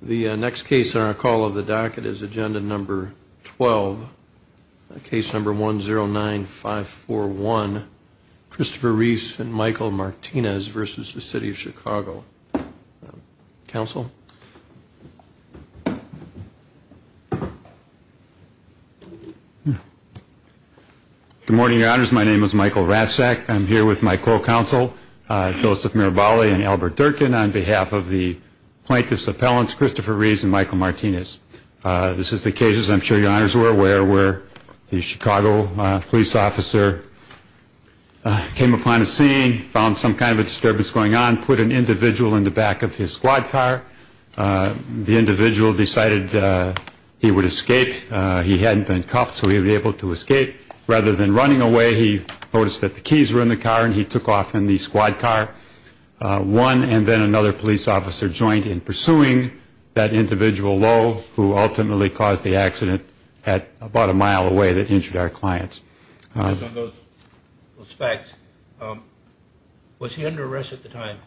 The next case on our call of the docket is Agenda Number 12, Case Number 109541, Christopher Ries and Michael Martinez v. City of Chicago. Counsel? Good morning, Your Honors. My name is Michael Rassak. I'm here with my co-counsel, Joseph Mirabale and Albert Durkin, on behalf of the plaintiff's appellants, Christopher Ries and Michael Martinez. This is the case, as I'm sure Your Honors are aware, where the Chicago police officer came upon a scene, found some kind of a disturbance going on, put an individual in the back of his squad car. The individual decided he would escape. He hadn't been cuffed, so he would be able to escape. Rather than running away, he noticed that the keys were in the car and he took off in the squad car. One and then another police officer joined in pursuing that individual, Lowe, who ultimately caused the accident at about a mile away that injured our client. Based on those facts, was he under arrest at the time?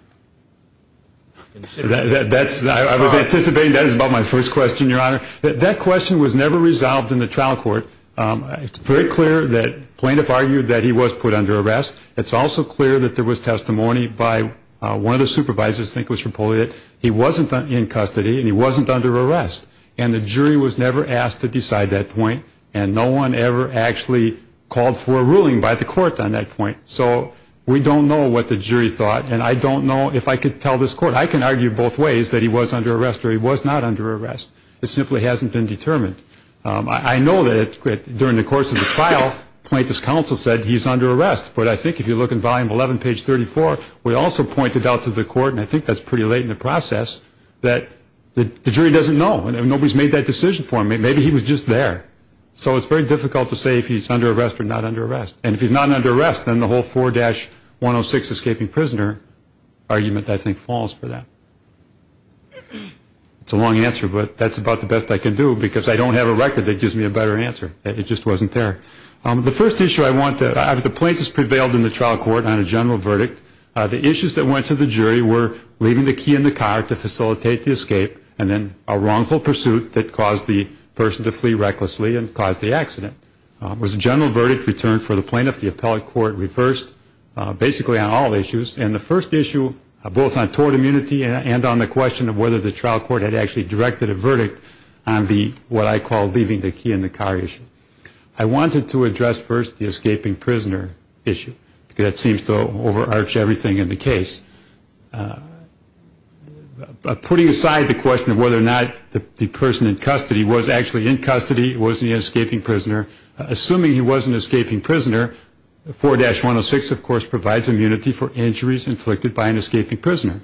I was anticipating that. That is about my first question, Your Honor. That question was never resolved in the trial court. It's very clear that the plaintiff argued that he was put under arrest. It's also clear that there was testimony by one of the supervisors, I think it was Rapolio, that he wasn't in custody and he wasn't under arrest. And the jury was never asked to decide that point, and no one ever actually called for a ruling by the court on that point. So we don't know what the jury thought, and I don't know if I could tell this court. I can argue both ways that he was under arrest or he was not under arrest. It simply hasn't been determined. I know that during the course of the trial, plaintiff's counsel said he's under arrest, but I think if you look in volume 11, page 34, we also pointed out to the court, and I think that's pretty late in the process, that the jury doesn't know. Nobody's made that decision for him. Maybe he was just there. So it's very difficult to say if he's under arrest or not under arrest. And if he's not under arrest, then the whole 4-106 escaping prisoner argument, I think, falls for that. It's a long answer, but that's about the best I can do because I don't have a record that gives me a better answer. It just wasn't there. The first issue I want to – the plaintiffs prevailed in the trial court on a general verdict. The issues that went to the jury were leaving the key in the car to facilitate the escape and then a wrongful pursuit that caused the person to flee recklessly and caused the accident. It was a general verdict returned for the plaintiff. The appellate court reversed basically on all issues. And the first issue, both on tort immunity and on the question of whether the trial court had actually directed a verdict on the, what I call, leaving the key in the car issue. I wanted to address first the escaping prisoner issue because that seems to overarch everything in the case. Putting aside the question of whether or not the person in custody was actually in custody, was he an escaping prisoner, assuming he was an escaping prisoner, 4-106, of course, provides immunity for injuries inflicted by an escaping prisoner.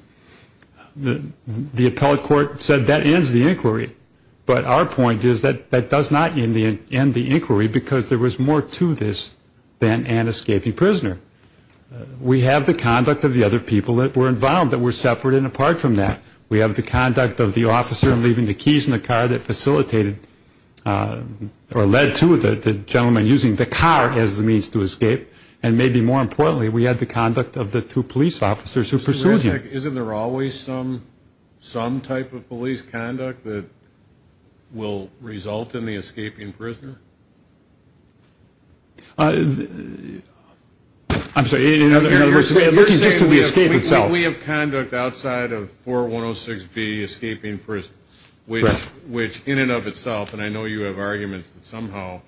The appellate court said that ends the inquiry. But our point is that that does not end the inquiry because there was more to this than an escaping prisoner. We have the conduct of the other people that were involved that were separate and apart from that. We have the conduct of the officer leaving the keys in the car that facilitated or led to the gentleman using the car as a means to escape. And maybe more importantly, we had the conduct of the two police officers who pursued him. Isn't there always some type of police conduct that will result in the escaping prisoner? I'm sorry. You're saying we have conduct outside of 4-106B, escaping prison, which in and of itself, and I know you have arguments that somehow,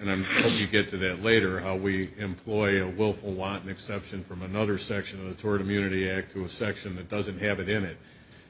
and I hope you get to that later, how we employ a willful, wanton exception from another section of the Tort Immunity Act to a section that doesn't have it in it.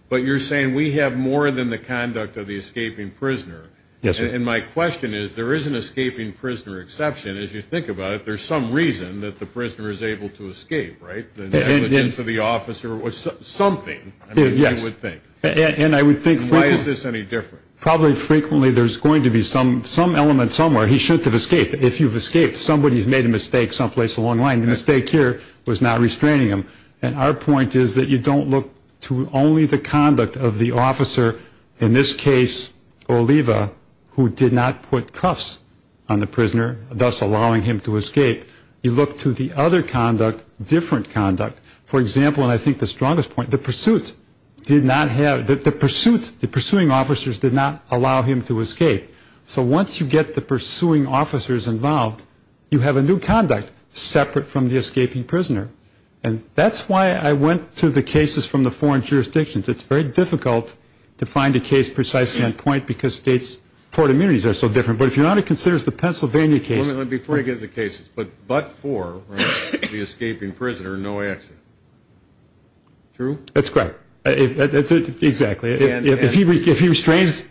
But you're saying we have more than the conduct of the escaping prisoner. And my question is, there is an escaping prisoner exception. As you think about it, there's some reason that the prisoner is able to escape, right? The negligence of the officer was something, I mean, you would think. And I would think frequently. Why is this any different? Probably frequently there's going to be some element somewhere. He shouldn't have escaped. If you've escaped, somebody's made a mistake someplace along the line. The mistake here was not restraining him. And our point is that you don't look to only the conduct of the officer, in this case Oliva, who did not put cuffs on the prisoner, thus allowing him to escape. You look to the other conduct, different conduct. For example, and I think the strongest point, the pursuit did not have, the pursuit, the pursuing officers did not allow him to escape. So once you get the pursuing officers involved, you have a new conduct separate from the escaping prisoner. And that's why I went to the cases from the foreign jurisdictions. It's very difficult to find a case precisely on point because states' tort immunities are so different. But if you're not, it considers the Pennsylvania case. Before I get into the cases, but for the escaping prisoner, no accident. True? That's correct. Exactly. If he restrains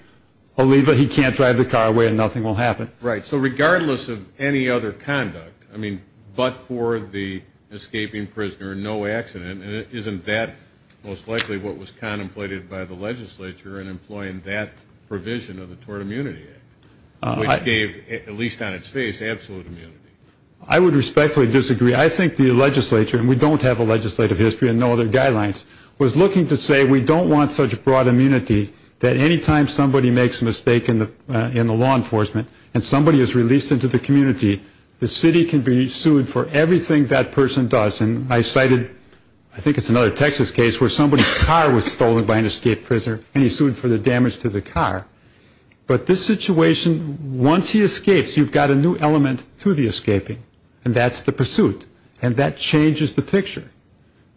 Oliva, he can't drive the car away and nothing will happen. Right. So regardless of any other conduct, I mean, but for the escaping prisoner, no accident. And isn't that most likely what was contemplated by the legislature in employing that provision of the Tort Immunity Act, which gave, at least on its face, absolute immunity? I would respectfully disagree. I think the legislature, and we don't have a legislative history and no other guidelines, was looking to say we don't want such broad immunity that any time somebody makes a mistake in the law enforcement and somebody is released into the community, the city can be sued for everything that person does. And I cited, I think it's another Texas case where somebody's car was stolen by an escaped prisoner and he sued for the damage to the car. But this situation, once he escapes, you've got a new element to the escaping, and that's the pursuit. And that changes the picture.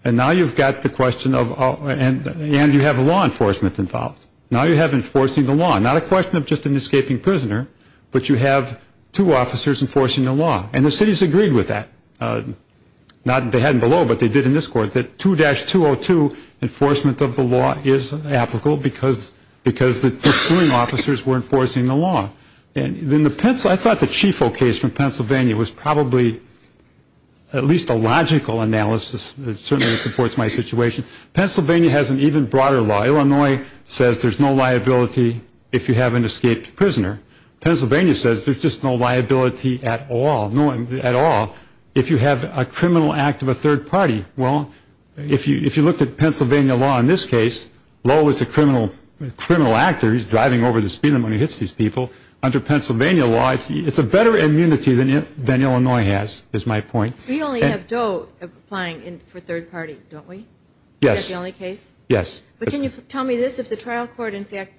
And now you've got the question of, and you have law enforcement involved. Now you have enforcing the law. Not a question of just an escaping prisoner, but you have two officers enforcing the law. And the cities agreed with that. They hadn't below, but they did in this court, that 2-202 enforcement of the law is applicable because the suing officers were enforcing the law. I thought the Chiefo case from Pennsylvania was probably at least a logical analysis. It certainly supports my situation. Pennsylvania has an even broader law. Illinois says there's no liability if you have an escaped prisoner. Pennsylvania says there's just no liability at all if you have a criminal act of a third party. Well, if you looked at Pennsylvania law in this case, Lowe is a criminal actor. He's driving over the speed limit when he hits these people. Under Pennsylvania law, it's a better immunity than Illinois has, is my point. We only have Doe applying for third party, don't we? Yes. Is that the only case? Yes. But can you tell me this? If the trial court, in fact,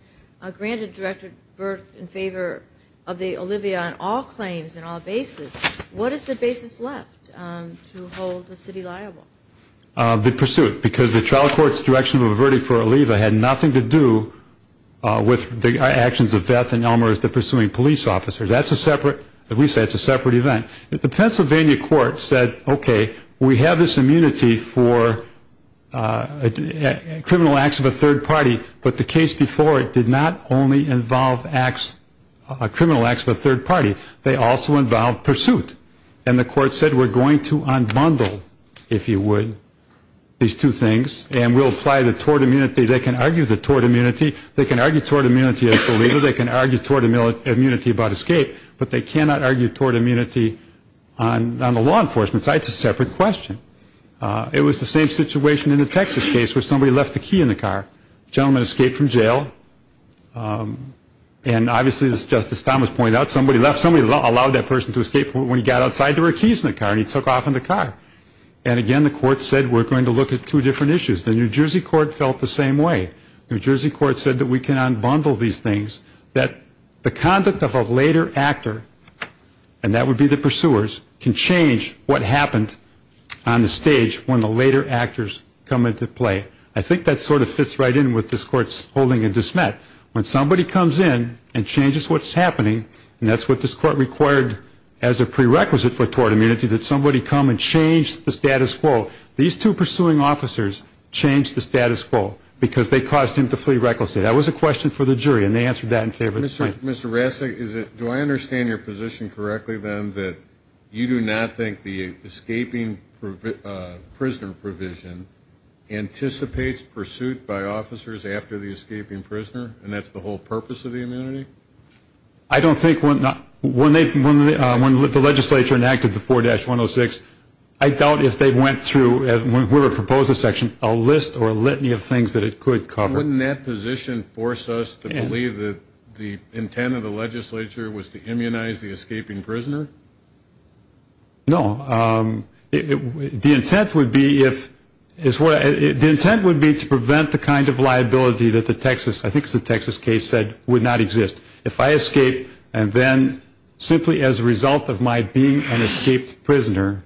granted Director Burke in favor of the Olivia on all claims and all bases, what is the basis left to hold the city liable? The pursuit. Because the trial court's direction of a verdict for Olivia had nothing to do with the actions of Veth and Elmer as to pursuing police officers. That's a separate, at least that's a separate event. The Pennsylvania court said, okay, we have this immunity for criminal acts of a third party, but the case before it did not only involve acts, criminal acts of a third party. They also involved pursuit. And the court said we're going to unbundle, if you would, these two things and we'll apply the tort immunity. They can argue the tort immunity. They can argue tort immunity about Olivia. They can argue tort immunity about escape. But they cannot argue tort immunity on the law enforcement side. It's a separate question. It was the same situation in the Texas case where somebody left the key in the car. The gentleman escaped from jail. And obviously, as Justice Thomas pointed out, somebody left. Somebody allowed that person to escape. When he got outside, there were keys in the car and he took off in the car. And, again, the court said we're going to look at two different issues. The New Jersey court felt the same way. The New Jersey court said that we can unbundle these things, that the conduct of a later actor, and that would be the pursuers, can change what happened on the stage when the later actors come into play. I think that sort of fits right in with this court's holding and dismet. When somebody comes in and changes what's happening, and that's what this court required as a prerequisite for tort immunity, that somebody come and change the status quo. These two pursuing officers changed the status quo because they caused him to flee recklessly. That was a question for the jury, and they answered that in favor of the plaintiff. Mr. Rasick, do I understand your position correctly, then, that you do not think the escaping prisoner provision anticipates pursuit by officers after the escaping prisoner, and that's the whole purpose of the immunity? I don't think when the legislature enacted the 4-106, I doubt if they went through, when we were proposed a section, a list or a litany of things that it could cover. Wouldn't that position force us to believe that the intent of the legislature was to immunize the escaping prisoner? No. The intent would be to prevent the kind of liability that the Texas case said would not exist. If I escape, and then simply as a result of my being an escaped prisoner,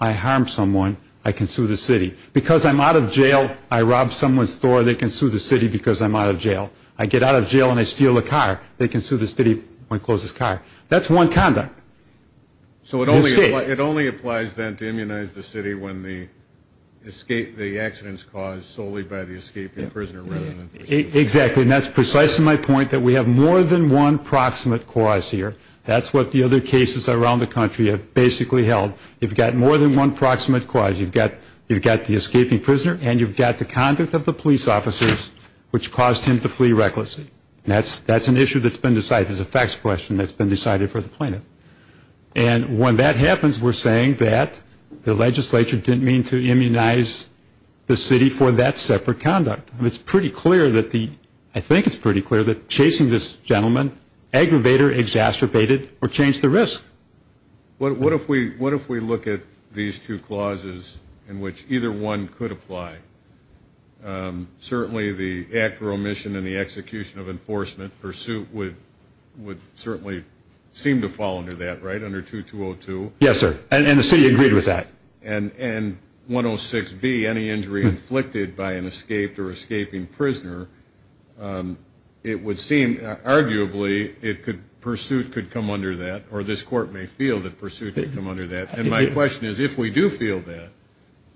I harm someone, I can sue the city. Because I'm out of jail, I rob someone's store, they can sue the city because I'm out of jail. I get out of jail and I steal a car, they can sue the city when I close this car. That's one conduct. So it only applies, then, to immunize the city when the accident's caused solely by the escaping prisoner rather than pursuit. Exactly. And that's precisely my point, that we have more than one proximate cause here. That's what the other cases around the country have basically held. You've got more than one proximate cause. You've got the escaping prisoner and you've got the conduct of the police officers, which caused him to flee recklessly. That's an issue that's been decided. It's a facts question that's been decided for the plaintiff. And when that happens, we're saying that the legislature didn't mean to immunize the city for that separate conduct. It's pretty clear that the ‑‑ I think it's pretty clear that chasing this gentleman, aggravator exacerbated or changed the risk. What if we look at these two clauses in which either one could apply? Certainly the act of omission and the execution of enforcement pursuit would certainly seem to fall under that, right, under 2202? Yes, sir. And the city agreed with that. And 106B, any injury inflicted by an escaped or escaping prisoner, it would seem arguably pursuit could come under that, or this court may feel that pursuit could come under that. And my question is if we do feel that,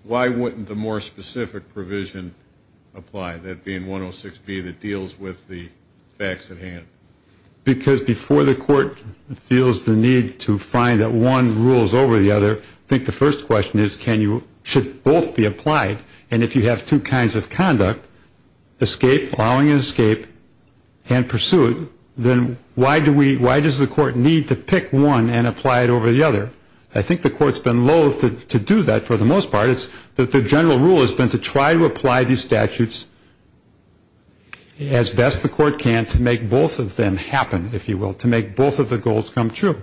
why wouldn't the more specific provision apply, that being 106B that deals with the facts at hand? Because before the court feels the need to find that one rules over the other, I think the first question is should both be applied? And if you have two kinds of conduct, escape, allowing an escape, and pursuit, then why does the court need to pick one and apply it over the other? I think the court's been loath to do that for the most part. It's that the general rule has been to try to apply these statutes as best the court can to make both of them happen, if you will, to make both of the goals come true.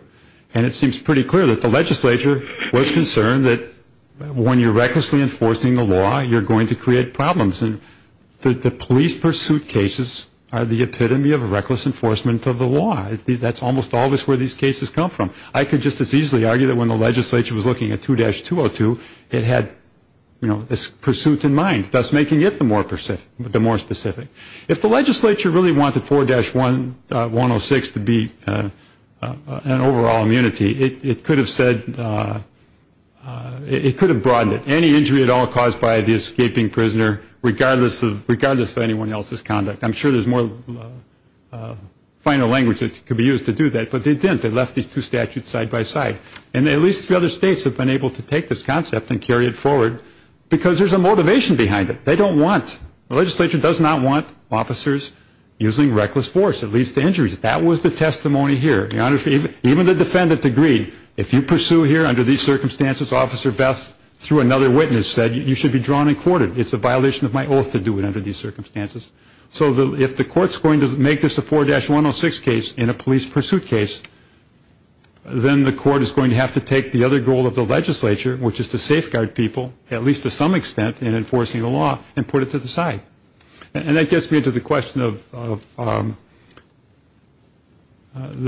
And it seems pretty clear that the legislature was concerned that when you're recklessly enforcing the law, you're going to create problems. And the police pursuit cases are the epitome of reckless enforcement of the law. That's almost always where these cases come from. I could just as easily argue that when the legislature was looking at 2-202, it had this pursuit in mind, thus making it the more specific. If the legislature really wanted 4-106 to be an overall immunity, it could have broadened it. Any injury at all caused by the escaping prisoner, regardless of anyone else's conduct. I'm sure there's more final language that could be used to do that, but they didn't. They left these two statutes side by side. And at least three other states have been able to take this concept and carry it forward, because there's a motivation behind it. They don't want, the legislature does not want officers using reckless force. It leads to injuries. That was the testimony here. Even the defendant agreed, if you pursue here under these circumstances, Officer Beth, through another witness, said you should be drawn and courted. It's a violation of my oath to do it under these circumstances. So if the court's going to make this a 4-106 case in a police pursuit case, then the court is going to have to take the other goal of the legislature, which is to safeguard people, at least to some extent, in enforcing the law, and put it to the side. And that gets me into the question of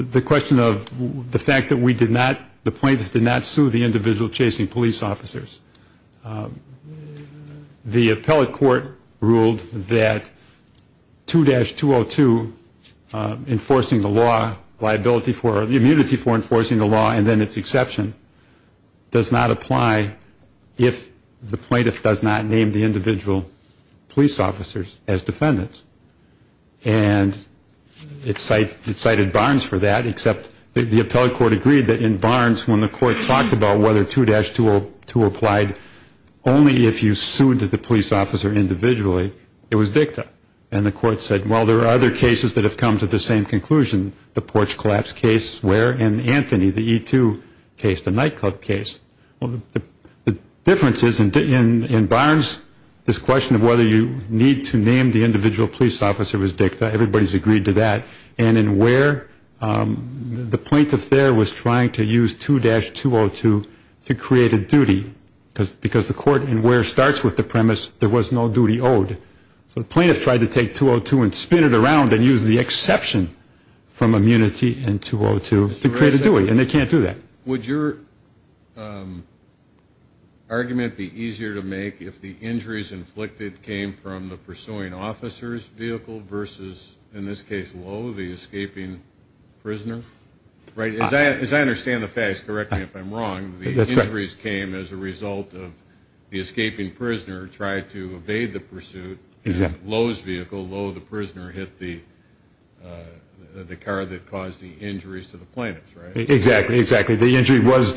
the fact that we did not, the plaintiffs did not sue the individual chasing police officers. The appellate court ruled that 2-202, enforcing the law, liability for, enforcing the law, and then its exception, does not apply if the plaintiff does not name the individual police officers as defendants. And it cited Barnes for that, except the appellate court agreed that in Barnes, when the court talked about whether 2-202 applied only if you sued the police officer individually, it was dicta. And the court said, well, there are other cases that have come to the same conclusion, the porch collapse case where, and Anthony, the E2 case, the nightclub case. Well, the difference is in Barnes, this question of whether you need to name the individual police officer was dicta. Everybody's agreed to that. And in Ware, the plaintiff there was trying to use 2-202 to create a duty, because the court in Ware starts with the premise there was no duty owed. So the plaintiff tried to take 2-202 and spin it around and use the exception from immunity and 2-202 to create a duty, and they can't do that. Would your argument be easier to make if the injuries inflicted came from the pursuing officer's vehicle versus, in this case, Lowe, the escaping prisoner? As I understand the facts, correct me if I'm wrong, the injuries came as a result of the escaping prisoner trying to evade the pursuit, and Lowe's vehicle, Lowe the prisoner, hit the car that caused the injuries to the plaintiff, right? Exactly, exactly. The injury was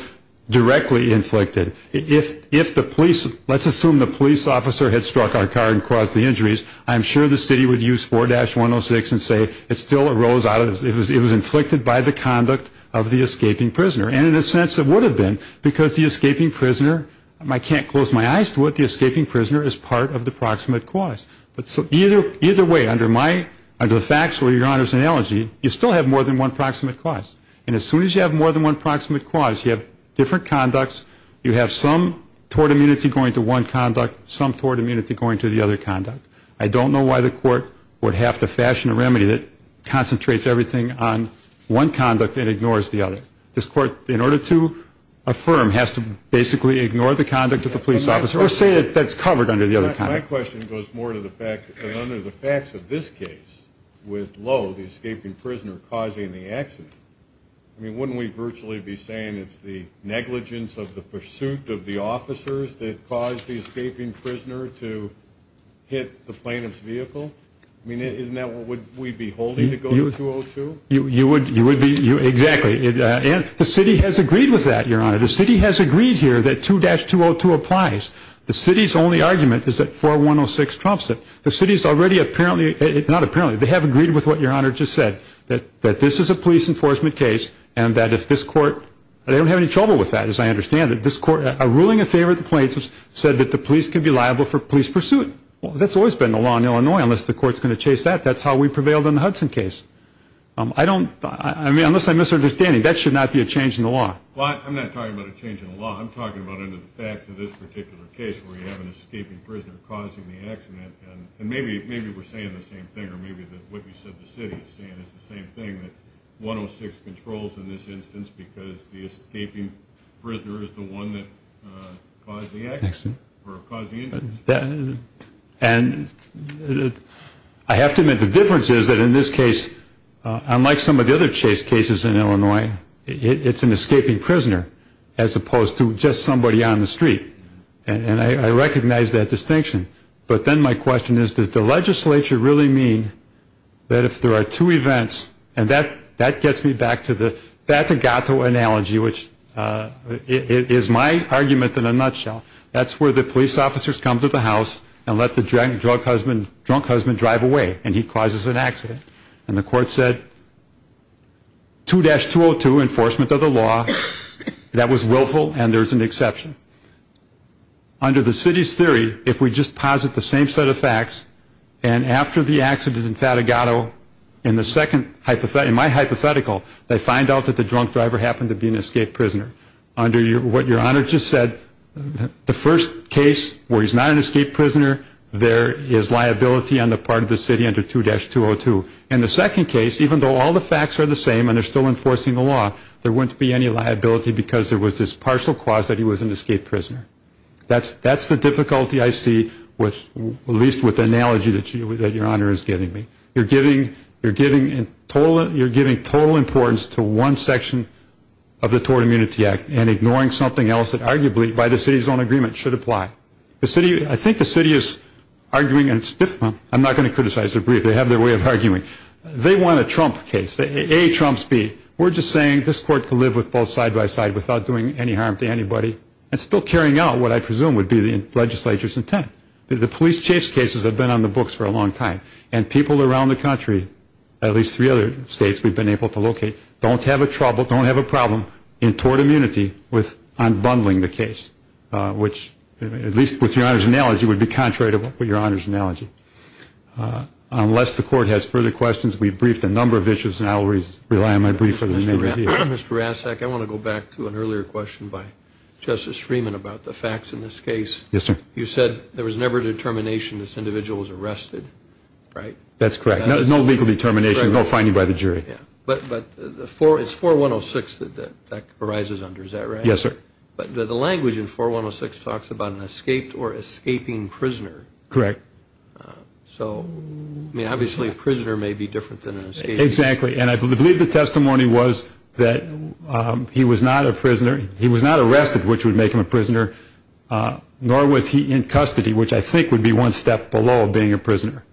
directly inflicted. If the police, let's assume the police officer had struck our car and caused the injuries, I'm sure the city would use 4-106 and say it still arose out of, it was inflicted by the conduct of the escaping prisoner. And in a sense it would have been because the escaping prisoner, I can't close my eyes to it, the escaping prisoner is part of the proximate cause. So either way, under the facts or your Honor's analogy, you still have more than one proximate cause. And as soon as you have more than one proximate cause, you have different conducts, you have some tort immunity going to one conduct, some tort immunity going to the other conduct. I don't know why the court would have to fashion a remedy that concentrates everything on one conduct and ignores the other. This court, in order to affirm, has to basically ignore the conduct of the police officer or say that that's covered under the other conduct. My question goes more to the fact that under the facts of this case with Lowe, the escaping prisoner causing the accident, I mean wouldn't we virtually be saying it's the negligence of the pursuit of the officers that caused the escaping prisoner to hit the plaintiff's vehicle? I mean isn't that what we'd be holding to go to 202? You would be, exactly. And the city has agreed with that, your Honor. The city has agreed here that 2-202 applies. The city's only argument is that 4106 trumps it. The city's already apparently, not apparently, they have agreed with what your Honor just said, that this is a police enforcement case and that if this court, they don't have any trouble with that as I understand it. A ruling in favor of the plaintiffs said that the police can be liable for police pursuit. That's always been the law in Illinois unless the court's going to chase that. That's how we prevailed in the Hudson case. I don't, I mean unless I'm misunderstanding, that should not be a change in the law. Well, I'm not talking about a change in the law. I'm talking about under the facts of this particular case where you have an escaping prisoner causing the accident. And maybe we're saying the same thing, or maybe what you said the city is saying is the same thing, that 106 controls in this instance because the escaping prisoner is the one that caused the accident or caused the incident. And I have to admit the difference is that in this case, unlike some of the other chase cases in Illinois, it's an escaping prisoner as opposed to just somebody on the street. And I recognize that distinction. But then my question is, does the legislature really mean that if there are two events, and that gets me back to the, that's a Gato analogy, which is my argument in a nutshell. That's where the police officers come to the house and let the drunk husband drive away and he causes an accident. And the court said 2-202, enforcement of the law. That was willful and there's an exception. Under the city's theory, if we just posit the same set of facts, and after the accident in Fatigato, in the second, in my hypothetical, they find out that the drunk driver happened to be an escaped prisoner. Under what Your Honor just said, the first case where he's not an escaped prisoner, there is liability on the part of the city under 2-202. And the second case, even though all the facts are the same and they're still enforcing the law, there wouldn't be any liability because there was this partial clause that he was an escaped prisoner. That's the difficulty I see, at least with the analogy that Your Honor is giving me. You're giving total importance to one section of the Tort Immunity Act and ignoring something else that arguably, by the city's own agreement, should apply. I think the city is arguing, and it's different. I'm not going to criticize their brief. They have their way of arguing. They want a Trump case. A trumps B. We're just saying this court can live with both side by side without doing any harm to anybody and still carrying out what I presume would be the legislature's intent. The police chase cases have been on the books for a long time and people around the country, at least three other states we've been able to locate, don't have a trouble, don't have a problem in tort immunity with unbundling the case, which at least with Your Honor's analogy would be contrary to Your Honor's analogy. Unless the court has further questions, we've briefed a number of issues and I'll rely on my brief for the remainder of the day. Mr. Rasek, I want to go back to an earlier question by Justice Freeman about the facts in this case. Yes, sir. You said there was never determination this individual was arrested, right? That's correct. No legal determination, no finding by the jury. But it's 4106 that that arises under, is that right? Yes, sir. But the language in 4106 talks about an escaped or escaping prisoner. Correct. So, I mean, obviously a prisoner may be different than an escaped. Exactly. And I believe the testimony was that he was not arrested, which would make him a prisoner, nor was he in custody, which I think would be one step below being a prisoner.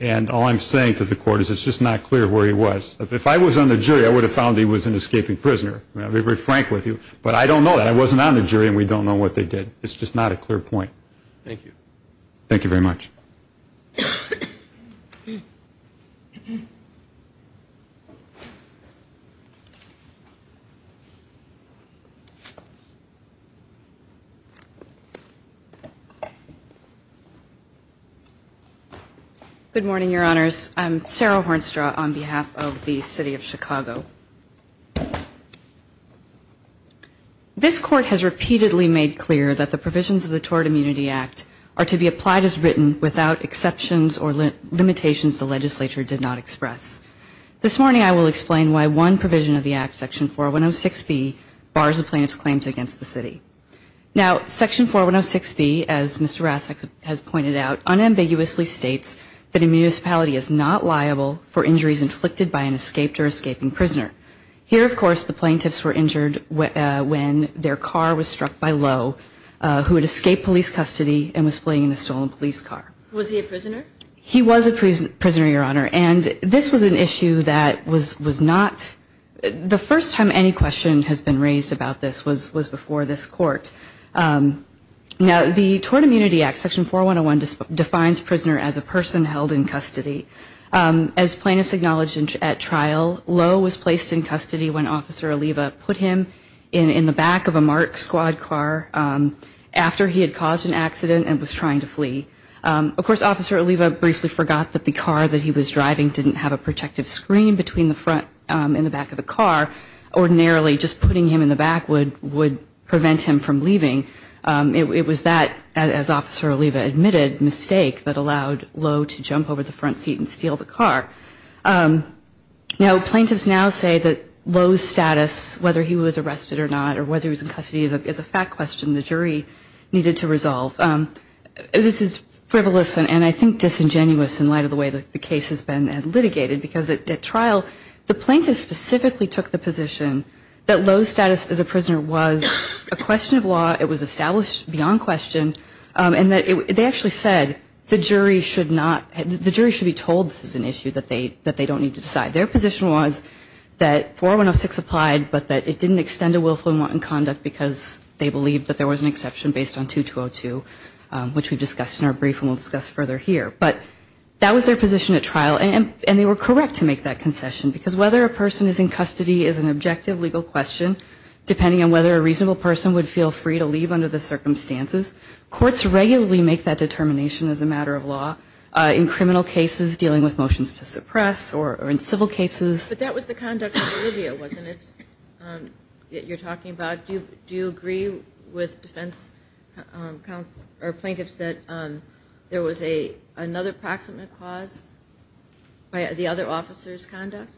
And all I'm saying to the court is it's just not clear where he was. If I was on the jury, I would have found he was an escaping prisoner. I'll be very frank with you. But I don't know that. I wasn't on the jury and we don't know what they did. It's just not a clear point. Thank you. Thank you very much. Good morning, Your Honors. I'm Sarah Hornstra on behalf of the City of Chicago. This court has repeatedly made clear that the provisions of the Tort Immunity Act are to be applied as written without exceptions or limitations the legislature did not express. This morning I will explain why one provision of the Act, Section 4106B, bars a plaintiff's claims against the city. Now, Section 4106B, as Mr. Rassak has pointed out, unambiguously states that a municipality is not liable for injuries inflicted by an escaped or escaping prisoner. Here, of course, the plaintiffs were injured when their car was struck by Lowe, who had escaped police custody and was fleeing in a stolen police car. Was he a prisoner? He was a prisoner, Your Honor. And this was an issue that was not the first time any question has been raised about this was before this court. Now, the Tort Immunity Act, Section 4101, defines prisoner as a person held in custody. As plaintiffs acknowledged at trial, Lowe was placed in custody when Officer Oliva put him in the back of a MARC squad car after he had caused an accident and was trying to flee. Of course, Officer Oliva briefly forgot that the car that he was driving didn't have a protective screen between the front and the back of the car. Ordinarily, just putting him in the back would prevent him from leaving. It was that, as Officer Oliva admitted, mistake that allowed Lowe to jump over the front seat and steal the car. Now, plaintiffs now say that Lowe's status, whether he was arrested or not, or whether he was in custody, is a fact question the jury needed to resolve. This is frivolous and I think disingenuous in light of the way the case has been litigated, because at trial, the plaintiffs specifically took the position that Lowe's status as a prisoner was a question of law, it was established beyond question, and they actually said the jury should be told this is an issue that they don't need to decide. Their position was that 4106 applied, but that it didn't extend a willful and wanton conduct because they believed that there was an exception based on 2202, which we discussed in our brief and we'll discuss further here. But that was their position at trial, and they were correct to make that concession, because whether a person is in custody is an objective legal question, depending on whether a reasonable person would feel free to leave under the circumstances. Courts regularly make that determination as a matter of law in criminal cases, dealing with motions to suppress, or in civil cases. But that was the conduct of Olivia, wasn't it, that you're talking about? Do you agree with defense plaintiffs that there was another proximate cause by the other officer's conduct?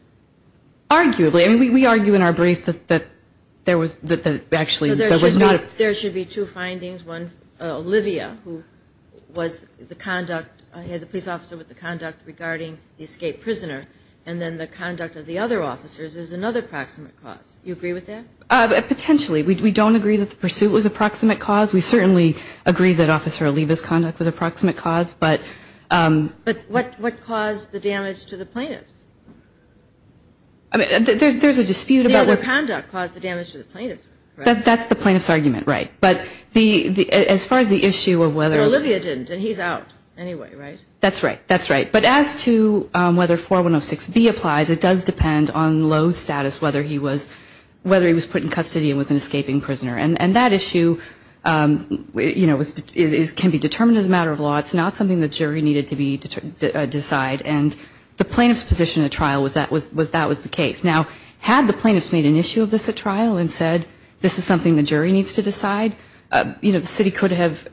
Arguably. And we argue in our brief that actually there was not a... So there should be two findings, one, Olivia, who was the police officer with the conduct regarding the escaped prisoner, and then the conduct of the other officers is another proximate cause. Do you agree with that? Potentially. We don't agree that the pursuit was a proximate cause. We certainly agree that Officer Oliva's conduct was a proximate cause, but... But what caused the damage to the plaintiffs? I mean, there's a dispute about what... The other conduct caused the damage to the plaintiffs, right? That's the plaintiff's argument, right. But as far as the issue of whether... Well, Olivia didn't, and he's out anyway, right? That's right. That's right. But as to whether 4106B applies, it does depend on Lowe's status, whether he was put in custody and was an escaping prisoner. And that issue can be determined as a matter of law. It's not something the jury needed to decide. And the plaintiff's position at trial was that that was the case. Now, had the plaintiffs made an issue of this at trial and said, this is something the jury needs to decide, the city could have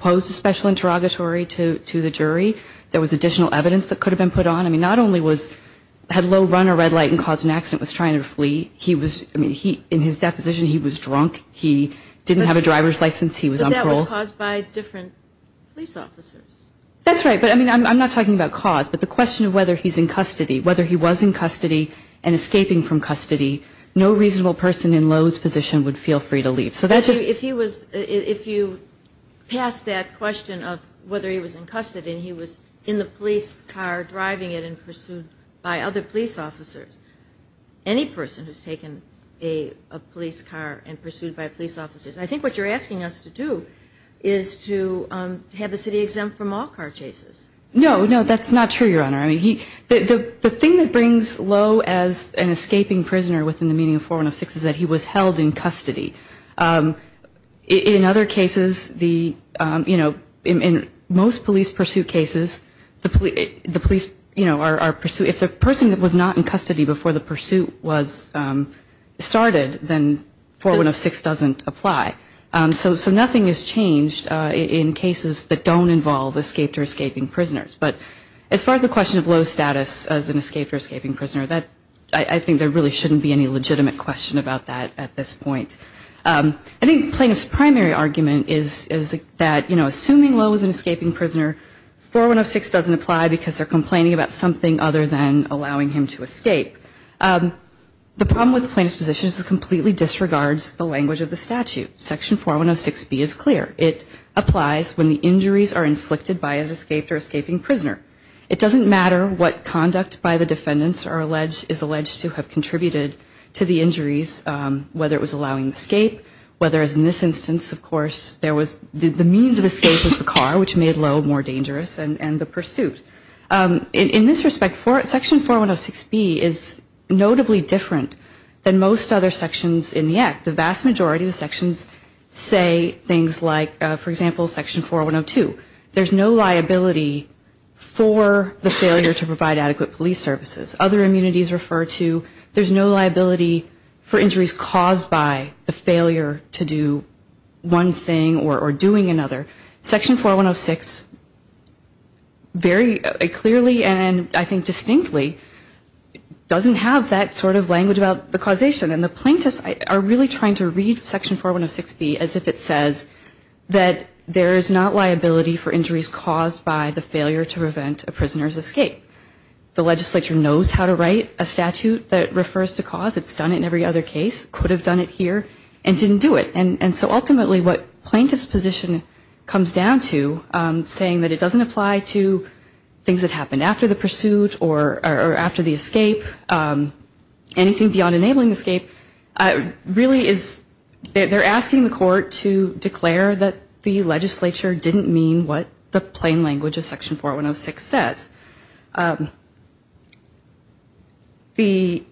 posed a special interrogatory to the jury. There was additional evidence that could have been put on. I mean, not only had Lowe run a red light and caused an accident, was trying to flee. In his deposition, he was drunk. He didn't have a driver's license. He was on parole. But that was caused by different police officers. That's right. But, I mean, I'm not talking about cause, but the question of whether he's in custody, whether he was in custody and escaping from custody, no reasonable person in Lowe's position would feel free to leave. So that's just. If he was, if you pass that question of whether he was in custody and he was in the police car driving it and pursued by other police officers, any person who's taken a police car and pursued by police officers, I think what you're asking us to do is to have the city exempt from all car chases. No, no, that's not true, Your Honor. I mean, the thing that brings Lowe as an escaping prisoner within the meaning of 4106 is that he was held in custody. In other cases, the, you know, in most police pursuit cases, the police, you know, are pursued. If the person was not in custody before the pursuit was started, then 4106 doesn't apply. So nothing has changed in cases that don't involve escaped or escaping prisoners. But as far as the question of Lowe's status as an escaped or escaping prisoner, I think there really shouldn't be any legitimate question about that at this point. I think plaintiff's primary argument is that, you know, assuming Lowe was an escaping prisoner, 4106 doesn't apply because they're complaining about something other than allowing him to escape. The problem with the plaintiff's position is it completely disregards the language of the statute. Section 4106B is clear. It applies when the injuries are inflicted by an escaped or escaping prisoner. It doesn't matter what conduct by the defendants is alleged to have contributed to the injuries, whether it was allowing the escape, whether, as in this instance, of course, there was the means of escape was the car, which made Lowe more dangerous, and the pursuit. In this respect, Section 4106B is notably different than most other sections in the Act. The vast majority of the sections say things like, for example, Section 4102, there's no liability for the failure to provide adequate police services. Other immunities refer to there's no liability for injuries caused by the failure to do one thing or doing another. Section 4106 very clearly and I think distinctly doesn't have that sort of language about the causation. And the plaintiffs are really trying to read Section 4106B as if it says that there is not liability for injuries caused by the failure to prevent a prisoner's escape. The legislature knows how to write a statute that refers to cause. It's done it in every other case, could have done it here, and didn't do it. And so ultimately what plaintiff's position comes down to, saying that it doesn't apply to things that happened after the pursuit or after the escape, anything beyond enabling the escape, really is, they're asking the court to declare that the legislature didn't mean what the plain language of Section 4106 says. The,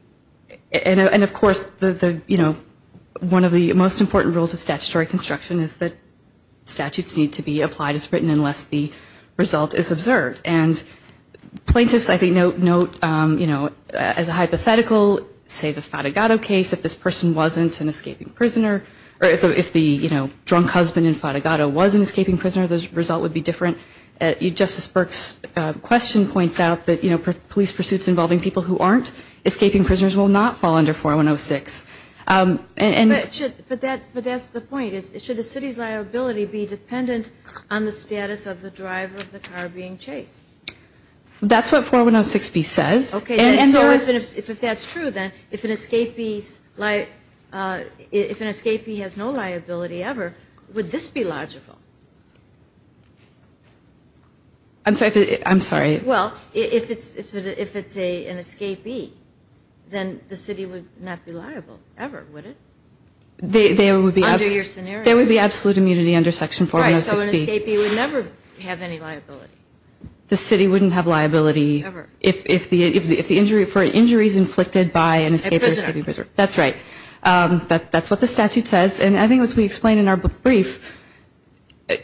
and of course the, you know, one of the most important rules of statutory construction is that statutes need to be applied as written unless the result is observed. And plaintiffs, I think, note, you know, as a hypothetical, say the Fatigado case, if this person wasn't an escaping prisoner, or if the, you know, drunk husband in Fatigado was an escaping prisoner, the result would be different. Justice Burke's question points out that, you know, police pursuits involving people who aren't escaping prisoners will not fall under 4106. But that's the point, is should the city's liability be dependent on the status of the driver of the car being chased? That's what 4106b says. Okay. And so if that's true, then if an escapee's, if an escapee has no liability ever, would this be logical? I'm sorry. Well, if it's an escapee, then the city would not be liable ever, would it? There would be absolute immunity under Section 4106b. So an escapee would never have any liability? The city wouldn't have liability if the injury, for an injury is inflicted by an escapee. A prisoner. That's right. That's what the statute says. And I think as we explained in our brief,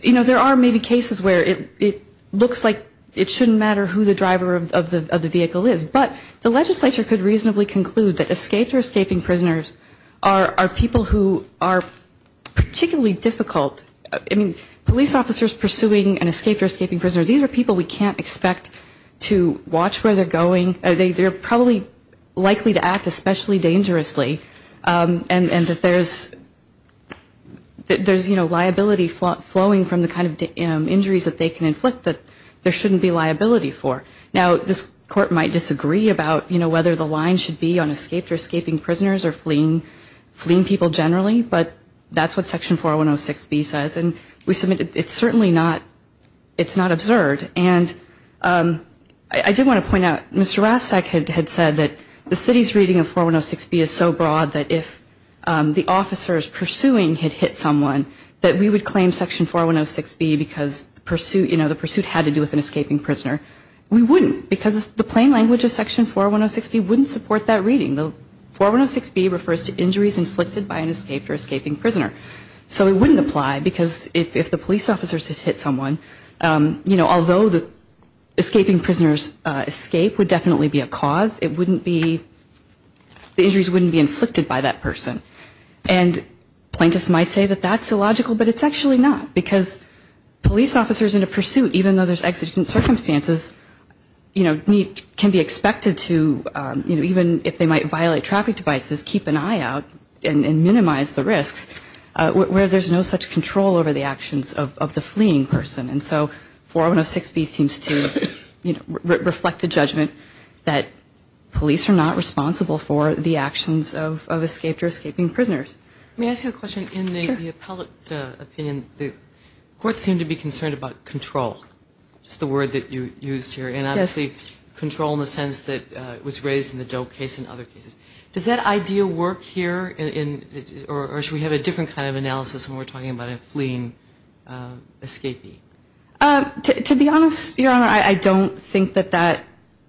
you know, there are maybe cases where it looks like it shouldn't matter who the driver of the vehicle is. But the legislature could reasonably conclude that escaped or escaping prisoners are people who are particularly difficult. I mean, police officers pursuing an escaped or escaping prisoner, these are people we can't expect to watch where they're going. They're probably likely to act especially dangerously. And that there's, you know, liability flowing from the kind of injuries that they can inflict that there shouldn't be liability for. Now, this court might disagree about, you know, whether the line should be on escaped or escaping prisoners or fleeing people generally. But that's what Section 4106b says. And we submit it's certainly not, it's not absurd. And I do want to point out, Mr. Rastak had said that the city's reading of 4106b is so broad that if the officers pursuing had hit someone that we would claim Section 4106b because the pursuit, you know, the pursuit had to do with an escaping prisoner. We wouldn't because the plain language of Section 4106b wouldn't support that reading. The 4106b refers to injuries inflicted by an escaped or escaping prisoner. So it wouldn't apply because if the police officers had hit someone, you know, although the escaping prisoner's escape would definitely be a cause, it wouldn't be, the injuries wouldn't be inflicted by that person. And plaintiffs might say that that's illogical, but it's actually not. Because police officers in a pursuit, even though there's exigent circumstances, you know, can be expected to, you know, even if they might violate traffic devices, keep an eye out and minimize the risks where there's no such control over the actions of the fleeing person. And so 4106b seems to reflect a judgment that police are not responsible for the actions of escaped or escaping prisoners. Let me ask you a question. In the appellate opinion, the courts seem to be concerned about control, just the word that you used here. And obviously control in the sense that was raised in the Doe case and other cases. Does that idea work here? Or should we have a different kind of analysis when we're talking about a fleeing escapee? To be honest, Your Honor, I don't think that that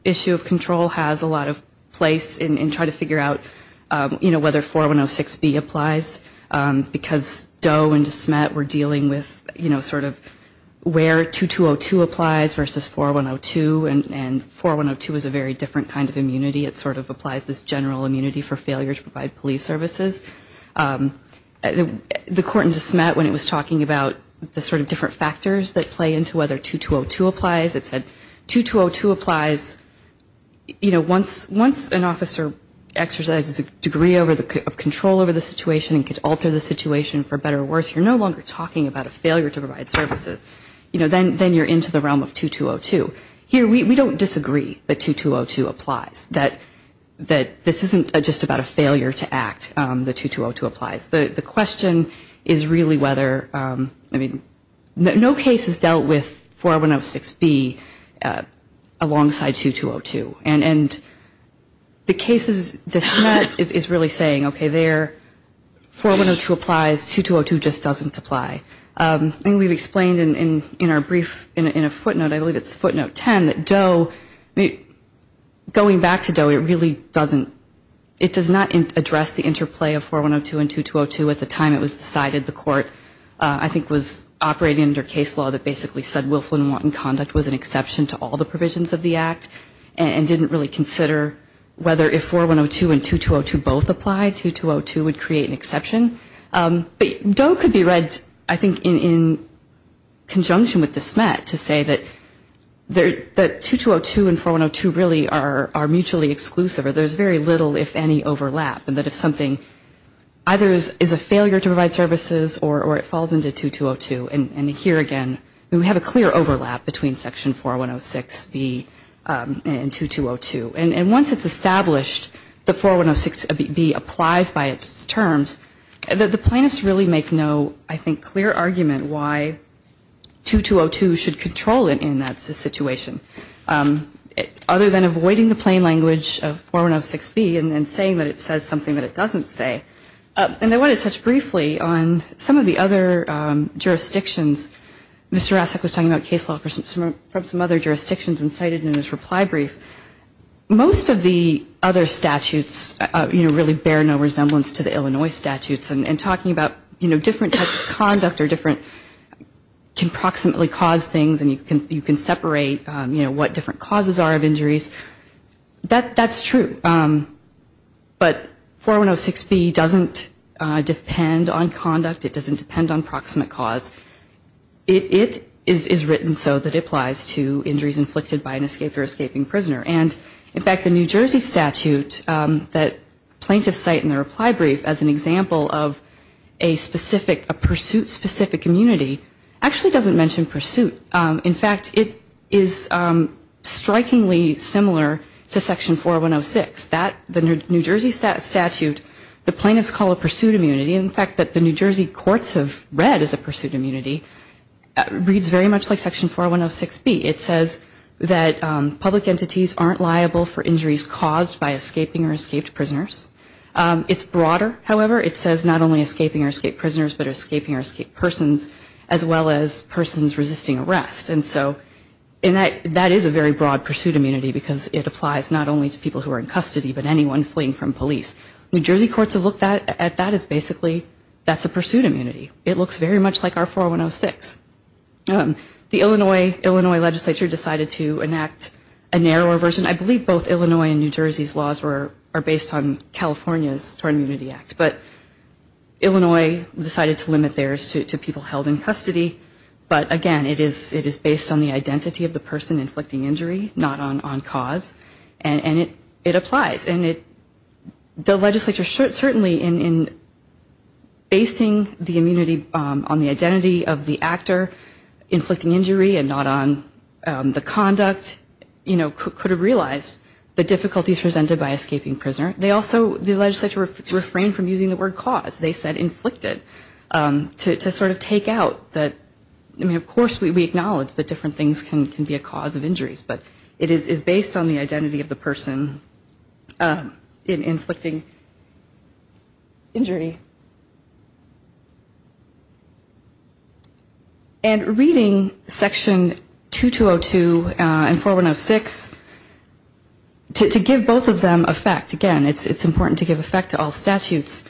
issue of control has a lot of place in trying to figure out, you know, whether 4106b applies because Doe and DeSmet were dealing with, you know, sort of where 2202 applies versus 4102. And 4102 is a very different kind of immunity. It sort of applies this general immunity for failure to provide police services. The court in DeSmet, when it was talking about the sort of different factors that play into whether 2202 applies, it said 2202 applies, you know, once an officer exercises a degree of control over the situation and can alter the situation for better or worse, you're no longer talking about a failure to provide services. You know, then you're into the realm of 2202. Here we don't disagree that 2202 applies, that this isn't just about a failure to act, that 2202 applies. The question is really whether, I mean, no case has dealt with 4106b alongside 2202. And DeSmet is really saying, okay, 4102 applies, 2202 just doesn't apply. And we've explained in our brief, in a footnote, I believe it's footnote 10, that Doe, going back to Doe, it really doesn't, it does not address the interplay of 4102 and 2202. At the time it was decided the court, I think, was operating under case law that basically said it didn't really consider whether if 4102 and 2202 both apply, 2202 would create an exception. But Doe could be read, I think, in conjunction with DeSmet to say that 2202 and 4102 really are mutually exclusive or there's very little, if any, overlap and that if something either is a failure to provide services or it falls into 2202, and here again, we have a clear overlap between section 4106b and 2202. And once it's established that 4106b applies by its terms, the plaintiffs really make no, I think, clear argument why 2202 should control it in that situation other than avoiding the plain language of 4106b and then saying that it says something that it doesn't say. And I want to touch briefly on some of the other jurisdictions. Mr. Rasek was talking about case law from some other jurisdictions incited in his reply brief. Most of the other statutes, you know, really bear no resemblance to the Illinois statutes and talking about, you know, different types of conduct or different, can proximately cause things and you can separate, you know, what different causes are of injuries, that's true. But 4106b doesn't depend on conduct. It doesn't depend on proximate cause. It is written so that it applies to injuries inflicted by an escaped or escaping prisoner. And, in fact, the New Jersey statute that plaintiffs cite in their reply brief as an example of a specific, a pursuit-specific immunity actually doesn't mention pursuit. In fact, it is strikingly similar to section 4106. That, the New Jersey statute, the plaintiffs call a pursuit immunity. In fact, the New Jersey courts have read as a pursuit immunity reads very much like section 4106b. It says that public entities aren't liable for injuries caused by escaping or escaped prisoners. It's broader, however. It says not only escaping or escaped prisoners but escaping or escaped persons as well as persons resisting arrest. And so that is a very broad pursuit immunity because it applies not only to people who are in custody but anyone fleeing from police. New Jersey courts have looked at that as basically that's a pursuit immunity. It looks very much like our 4106. The Illinois legislature decided to enact a narrower version. I believe both Illinois and New Jersey's laws are based on California's Tort Immunity Act. But Illinois decided to limit theirs to people held in custody. But, again, it is based on the identity of the person inflicting injury, not on cause. And it applies. And the legislature certainly in basing the immunity on the identity of the actor inflicting injury and not on the conduct, you know, could have realized the difficulties presented by escaping prisoner. They also, the legislature, refrained from using the word cause. They said inflicted to sort of take out that, I mean, of course, we acknowledge that different things can be a cause of injuries, but it is based on the identity of the person inflicting injury. And reading Section 2202 and 4106, to give both of them effect, again, it's important to give effect to all statutes.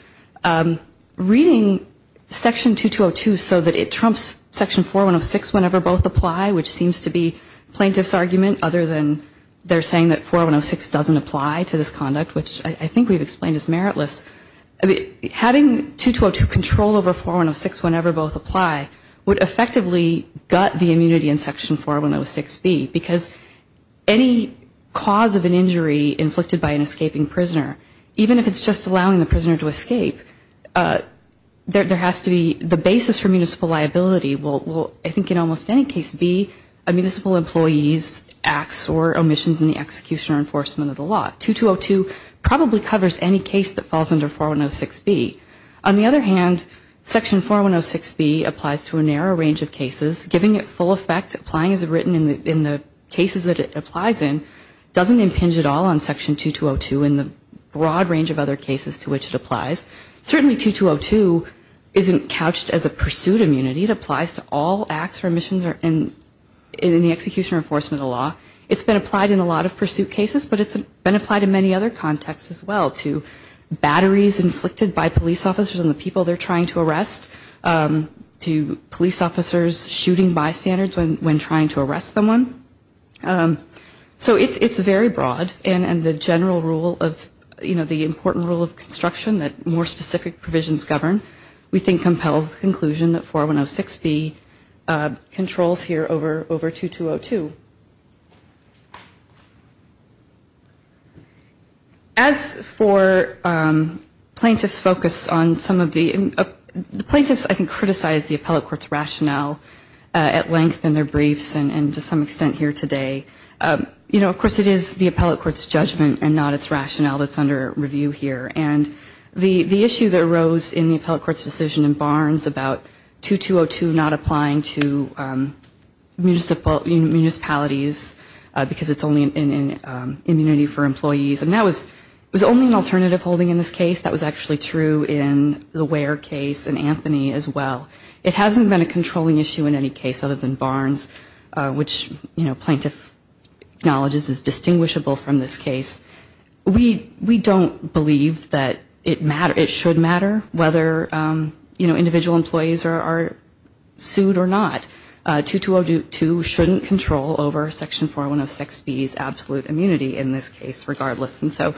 Reading Section 2202 so that it trumps Section 4106 whenever both apply, which seems to be plaintiff's argument other than they're saying that 4106 doesn't apply to this conduct, which I think we've explained is meritless. Having 2202 control over 4106 whenever both apply would effectively gut the immunity in Section 4106B, because any cause of an injury inflicted by an escaping prisoner, even if it's just allowing the prisoner to escape, there has to be, the basis for municipal liability will, I think, in almost any case, be a municipal employee's acts or omissions in the execution or enforcement of the law. 2202 probably covers any case that falls under 4106B. On the other hand, Section 4106B applies to a narrow range of cases. Giving it full effect, applying as written in the cases that it applies in, doesn't impinge at all on Section 2202 in the broad range of other cases to which it applies. Certainly 2202 isn't couched as a pursuit immunity. It applies to all acts or omissions in the execution or enforcement of the law. It's been applied in a lot of pursuit cases, but it's been applied in many other contexts as well, to batteries inflicted by police officers and the people they're trying to arrest, to police officers shooting bystanders when trying to arrest someone. So it's very broad, and the general rule of, you know, the important rule of construction that more specific provisions govern, we think compels the conclusion that 4106B controls here over 2202. As for plaintiffs' focus on some of the plaintiffs, I can criticize the appellate court's rationale at length in their briefs and to some extent here today. You know, of course it is the appellate court's judgment and not its rationale that's under review here. And the issue that arose in the appellate court's decision in Barnes about 2202 not applying to municipalities because it's only an immunity for employees, and that was only an alternative holding in this case. That was actually true in the Ware case and Anthony as well. It hasn't been a controlling issue in any case other than Barnes, which, you know, plaintiff acknowledges is distinguishable from this case. We don't believe that it should matter whether, you know, individual employees are sued or not. 2202 shouldn't control over Section 4106B's absolute immunity in this case regardless. And so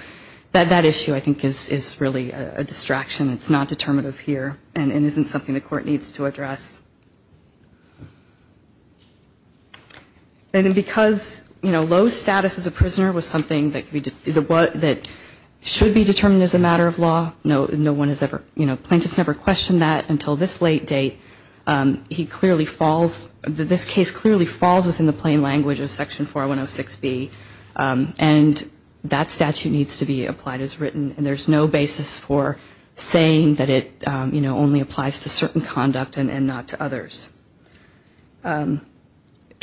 that issue I think is really a distraction. It's not determinative here and isn't something the court needs to address. And because, you know, low status as a prisoner was something that should be determined as a matter of law, no one has ever, you know, plaintiffs never questioned that until this late date. He clearly falls, this case clearly falls within the plain language of Section 4106B, and that statute needs to be applied as written, and there's no basis for saying that it, you know, only applies to certain conduct and not to others.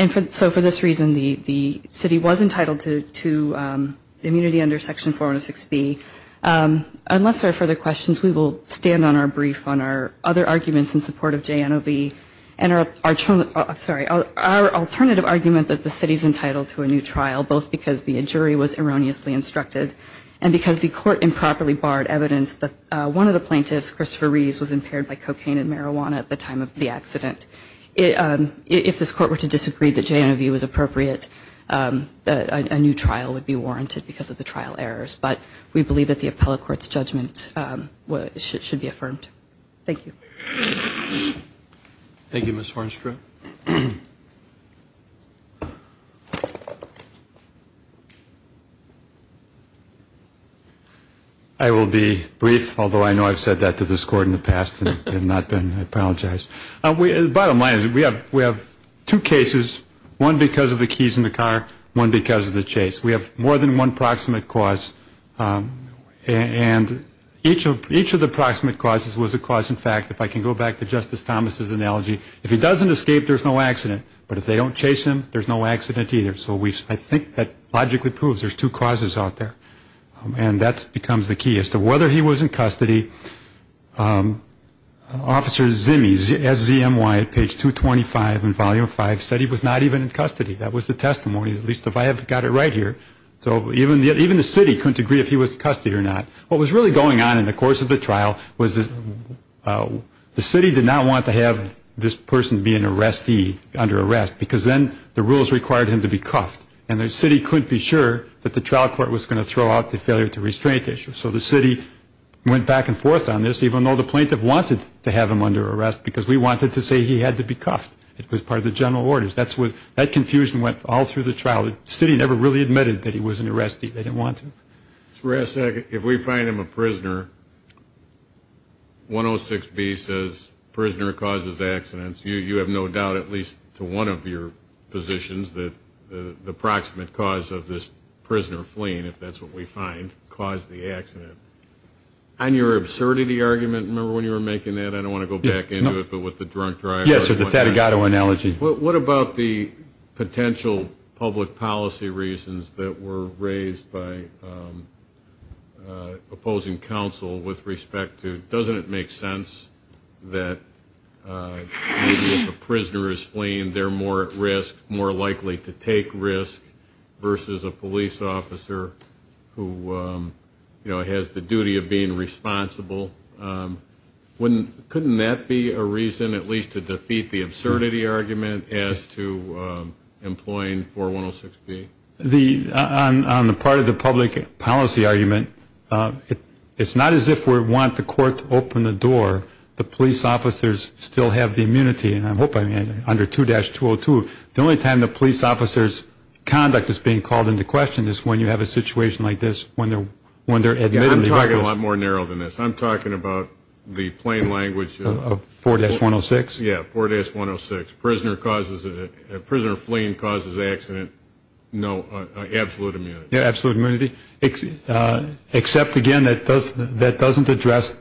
And so for this reason, the city was entitled to immunity under Section 4106B. Unless there are further questions, we will stand on our brief on our other arguments in support of JNOB and our alternative argument that the city's entitled to a new trial, both because the jury was erroneously instructed and because the court improperly barred evidence that one of the plaintiffs, Christopher Rees, was impaired by cocaine and marijuana at the time of the accident. If this court were to disagree that JNOB was appropriate, a new trial would be warranted because of the trial errors. But we believe that the appellate court's judgment should be affirmed. Thank you. I will be brief, although I know I've said that to this court in the past and have not been, I apologize. The bottom line is we have two cases, one because of the keys in the car, one because of the chase. We have more than one proximate cause, and each of the proximate causes looks a little bit different. One was a cause in fact, if I can go back to Justice Thomas's analogy, if he doesn't escape, there's no accident. But if they don't chase him, there's no accident either. So I think that logically proves there's two causes out there. And that becomes the key as to whether he was in custody. Officer Zimy, SZMY at page 225 in volume 5, said he was not even in custody. That was the testimony, at least if I have got it right here. So even the city couldn't agree if he was in custody or not. What was really going on in the course of the trial was the city did not want to have this person be an arrestee under arrest because then the rules required him to be cuffed. And the city couldn't be sure that the trial court was going to throw out the failure to restraint issue. So the city went back and forth on this, even though the plaintiff wanted to have him under arrest because we wanted to say he had to be cuffed. It was part of the general orders. That confusion went all through the trial. The city never really admitted that he was an arrestee. They didn't want to. Mr. Rasek, if we find him a prisoner, 106B says prisoner causes accidents. You have no doubt, at least to one of your positions, that the proximate cause of this prisoner fleeing, if that's what we find, caused the accident. On your absurdity argument, remember when you were making that? I don't want to go back into it, but with the drunk driver. Yes, with the Fatigado analogy. What about the potential public policy reasons that were raised by opposing counsel with respect to, doesn't it make sense that if a prisoner is fleeing, they're more at risk, more likely to take risk, versus a police officer who has the duty of being responsible? Couldn't that be a reason at least to defeat the absurdity argument as to employing 4106B? On the part of the public policy argument, it's not as if we want the court to open the door. The police officers still have the immunity, and I'm hoping under 2-202, the only time the police officer's conduct is being called into question is when you have a situation like this, when they're admittedly reckless. You're talking a lot more narrow than this. I'm talking about the plain language. 4-106? Yes, 4-106. Prisoner fleeing causes accident. No, absolute immunity. Yes, absolute immunity. Except, again, that doesn't address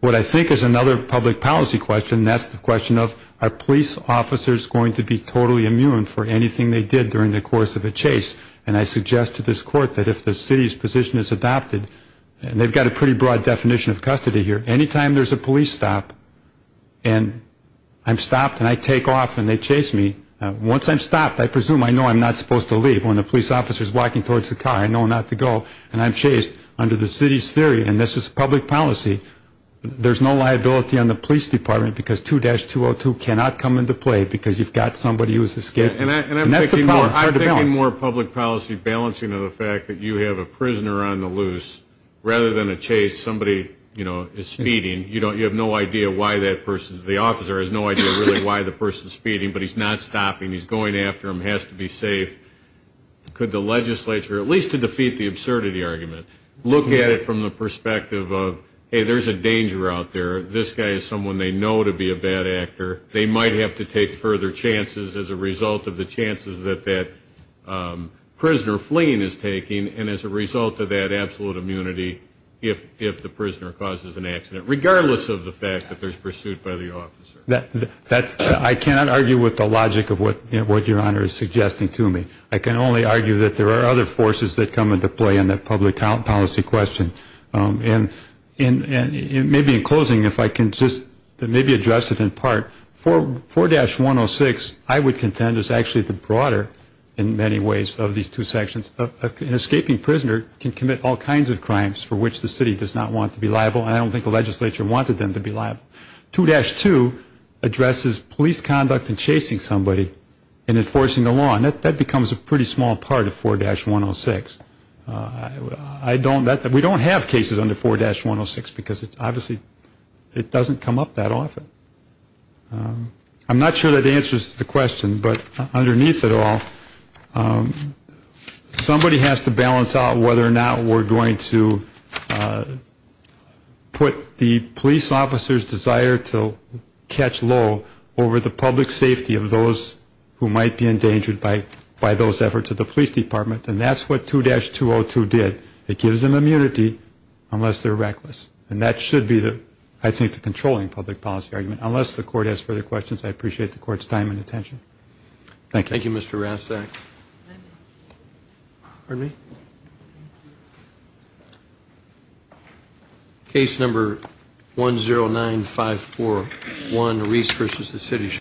what I think is another public policy question, and that's the question of are police officers going to be totally immune for anything they did during the course of a chase? And I suggest to this court that if the city's position is adopted, and they've got a pretty broad definition of custody here, any time there's a police stop and I'm stopped and I take off and they chase me, once I'm stopped, I presume I know I'm not supposed to leave. When the police officer's walking towards the car, I know not to go, and I'm chased. Under the city's theory, and this is public policy, there's no liability on the police department because 2-202 cannot come into play because you've got somebody who has escaped. And that's the problem. It's hard to balance. I'm thinking more public policy balancing of the fact that you have a prisoner on the loose. Rather than a chase, somebody, you know, is speeding. You have no idea why that person is. The officer has no idea really why the person's speeding, but he's not stopping. He's going after him. He has to be safe. Could the legislature, at least to defeat the absurdity argument, look at it from the perspective of, hey, there's a danger out there. This guy is someone they know to be a bad actor. They might have to take further chances as a result of the chances that that prisoner fleeing is taking and as a result of that absolute immunity if the prisoner causes an accident, regardless of the fact that there's pursuit by the officer. I cannot argue with the logic of what Your Honor is suggesting to me. I can only argue that there are other forces that come into play in that public policy question. And maybe in closing, if I can just maybe address it in part. 4-106, I would contend, is actually the broader in many ways of these two sections. An escaping prisoner can commit all kinds of crimes for which the city does not want to be liable, and I don't think the legislature wanted them to be liable. 2-2 addresses police conduct in chasing somebody and enforcing the law, and that becomes a pretty small part of 4-106. We don't have cases under 4-106 because obviously it doesn't come up that often. I'm not sure that answers the question, but underneath it all, somebody has to balance out whether or not we're going to put the police officer's desire to catch low over the public safety of those who might be endangered by those efforts of the police department, and that's what 2-202 did. It gives them immunity unless they're reckless. And that should be, I think, the controlling public policy argument. Unless the Court has further questions, I appreciate the Court's time and attention. Thank you. Thank you, Mr. Rastak. Pardon me? Thank you. Case number 109541, Reese versus the city.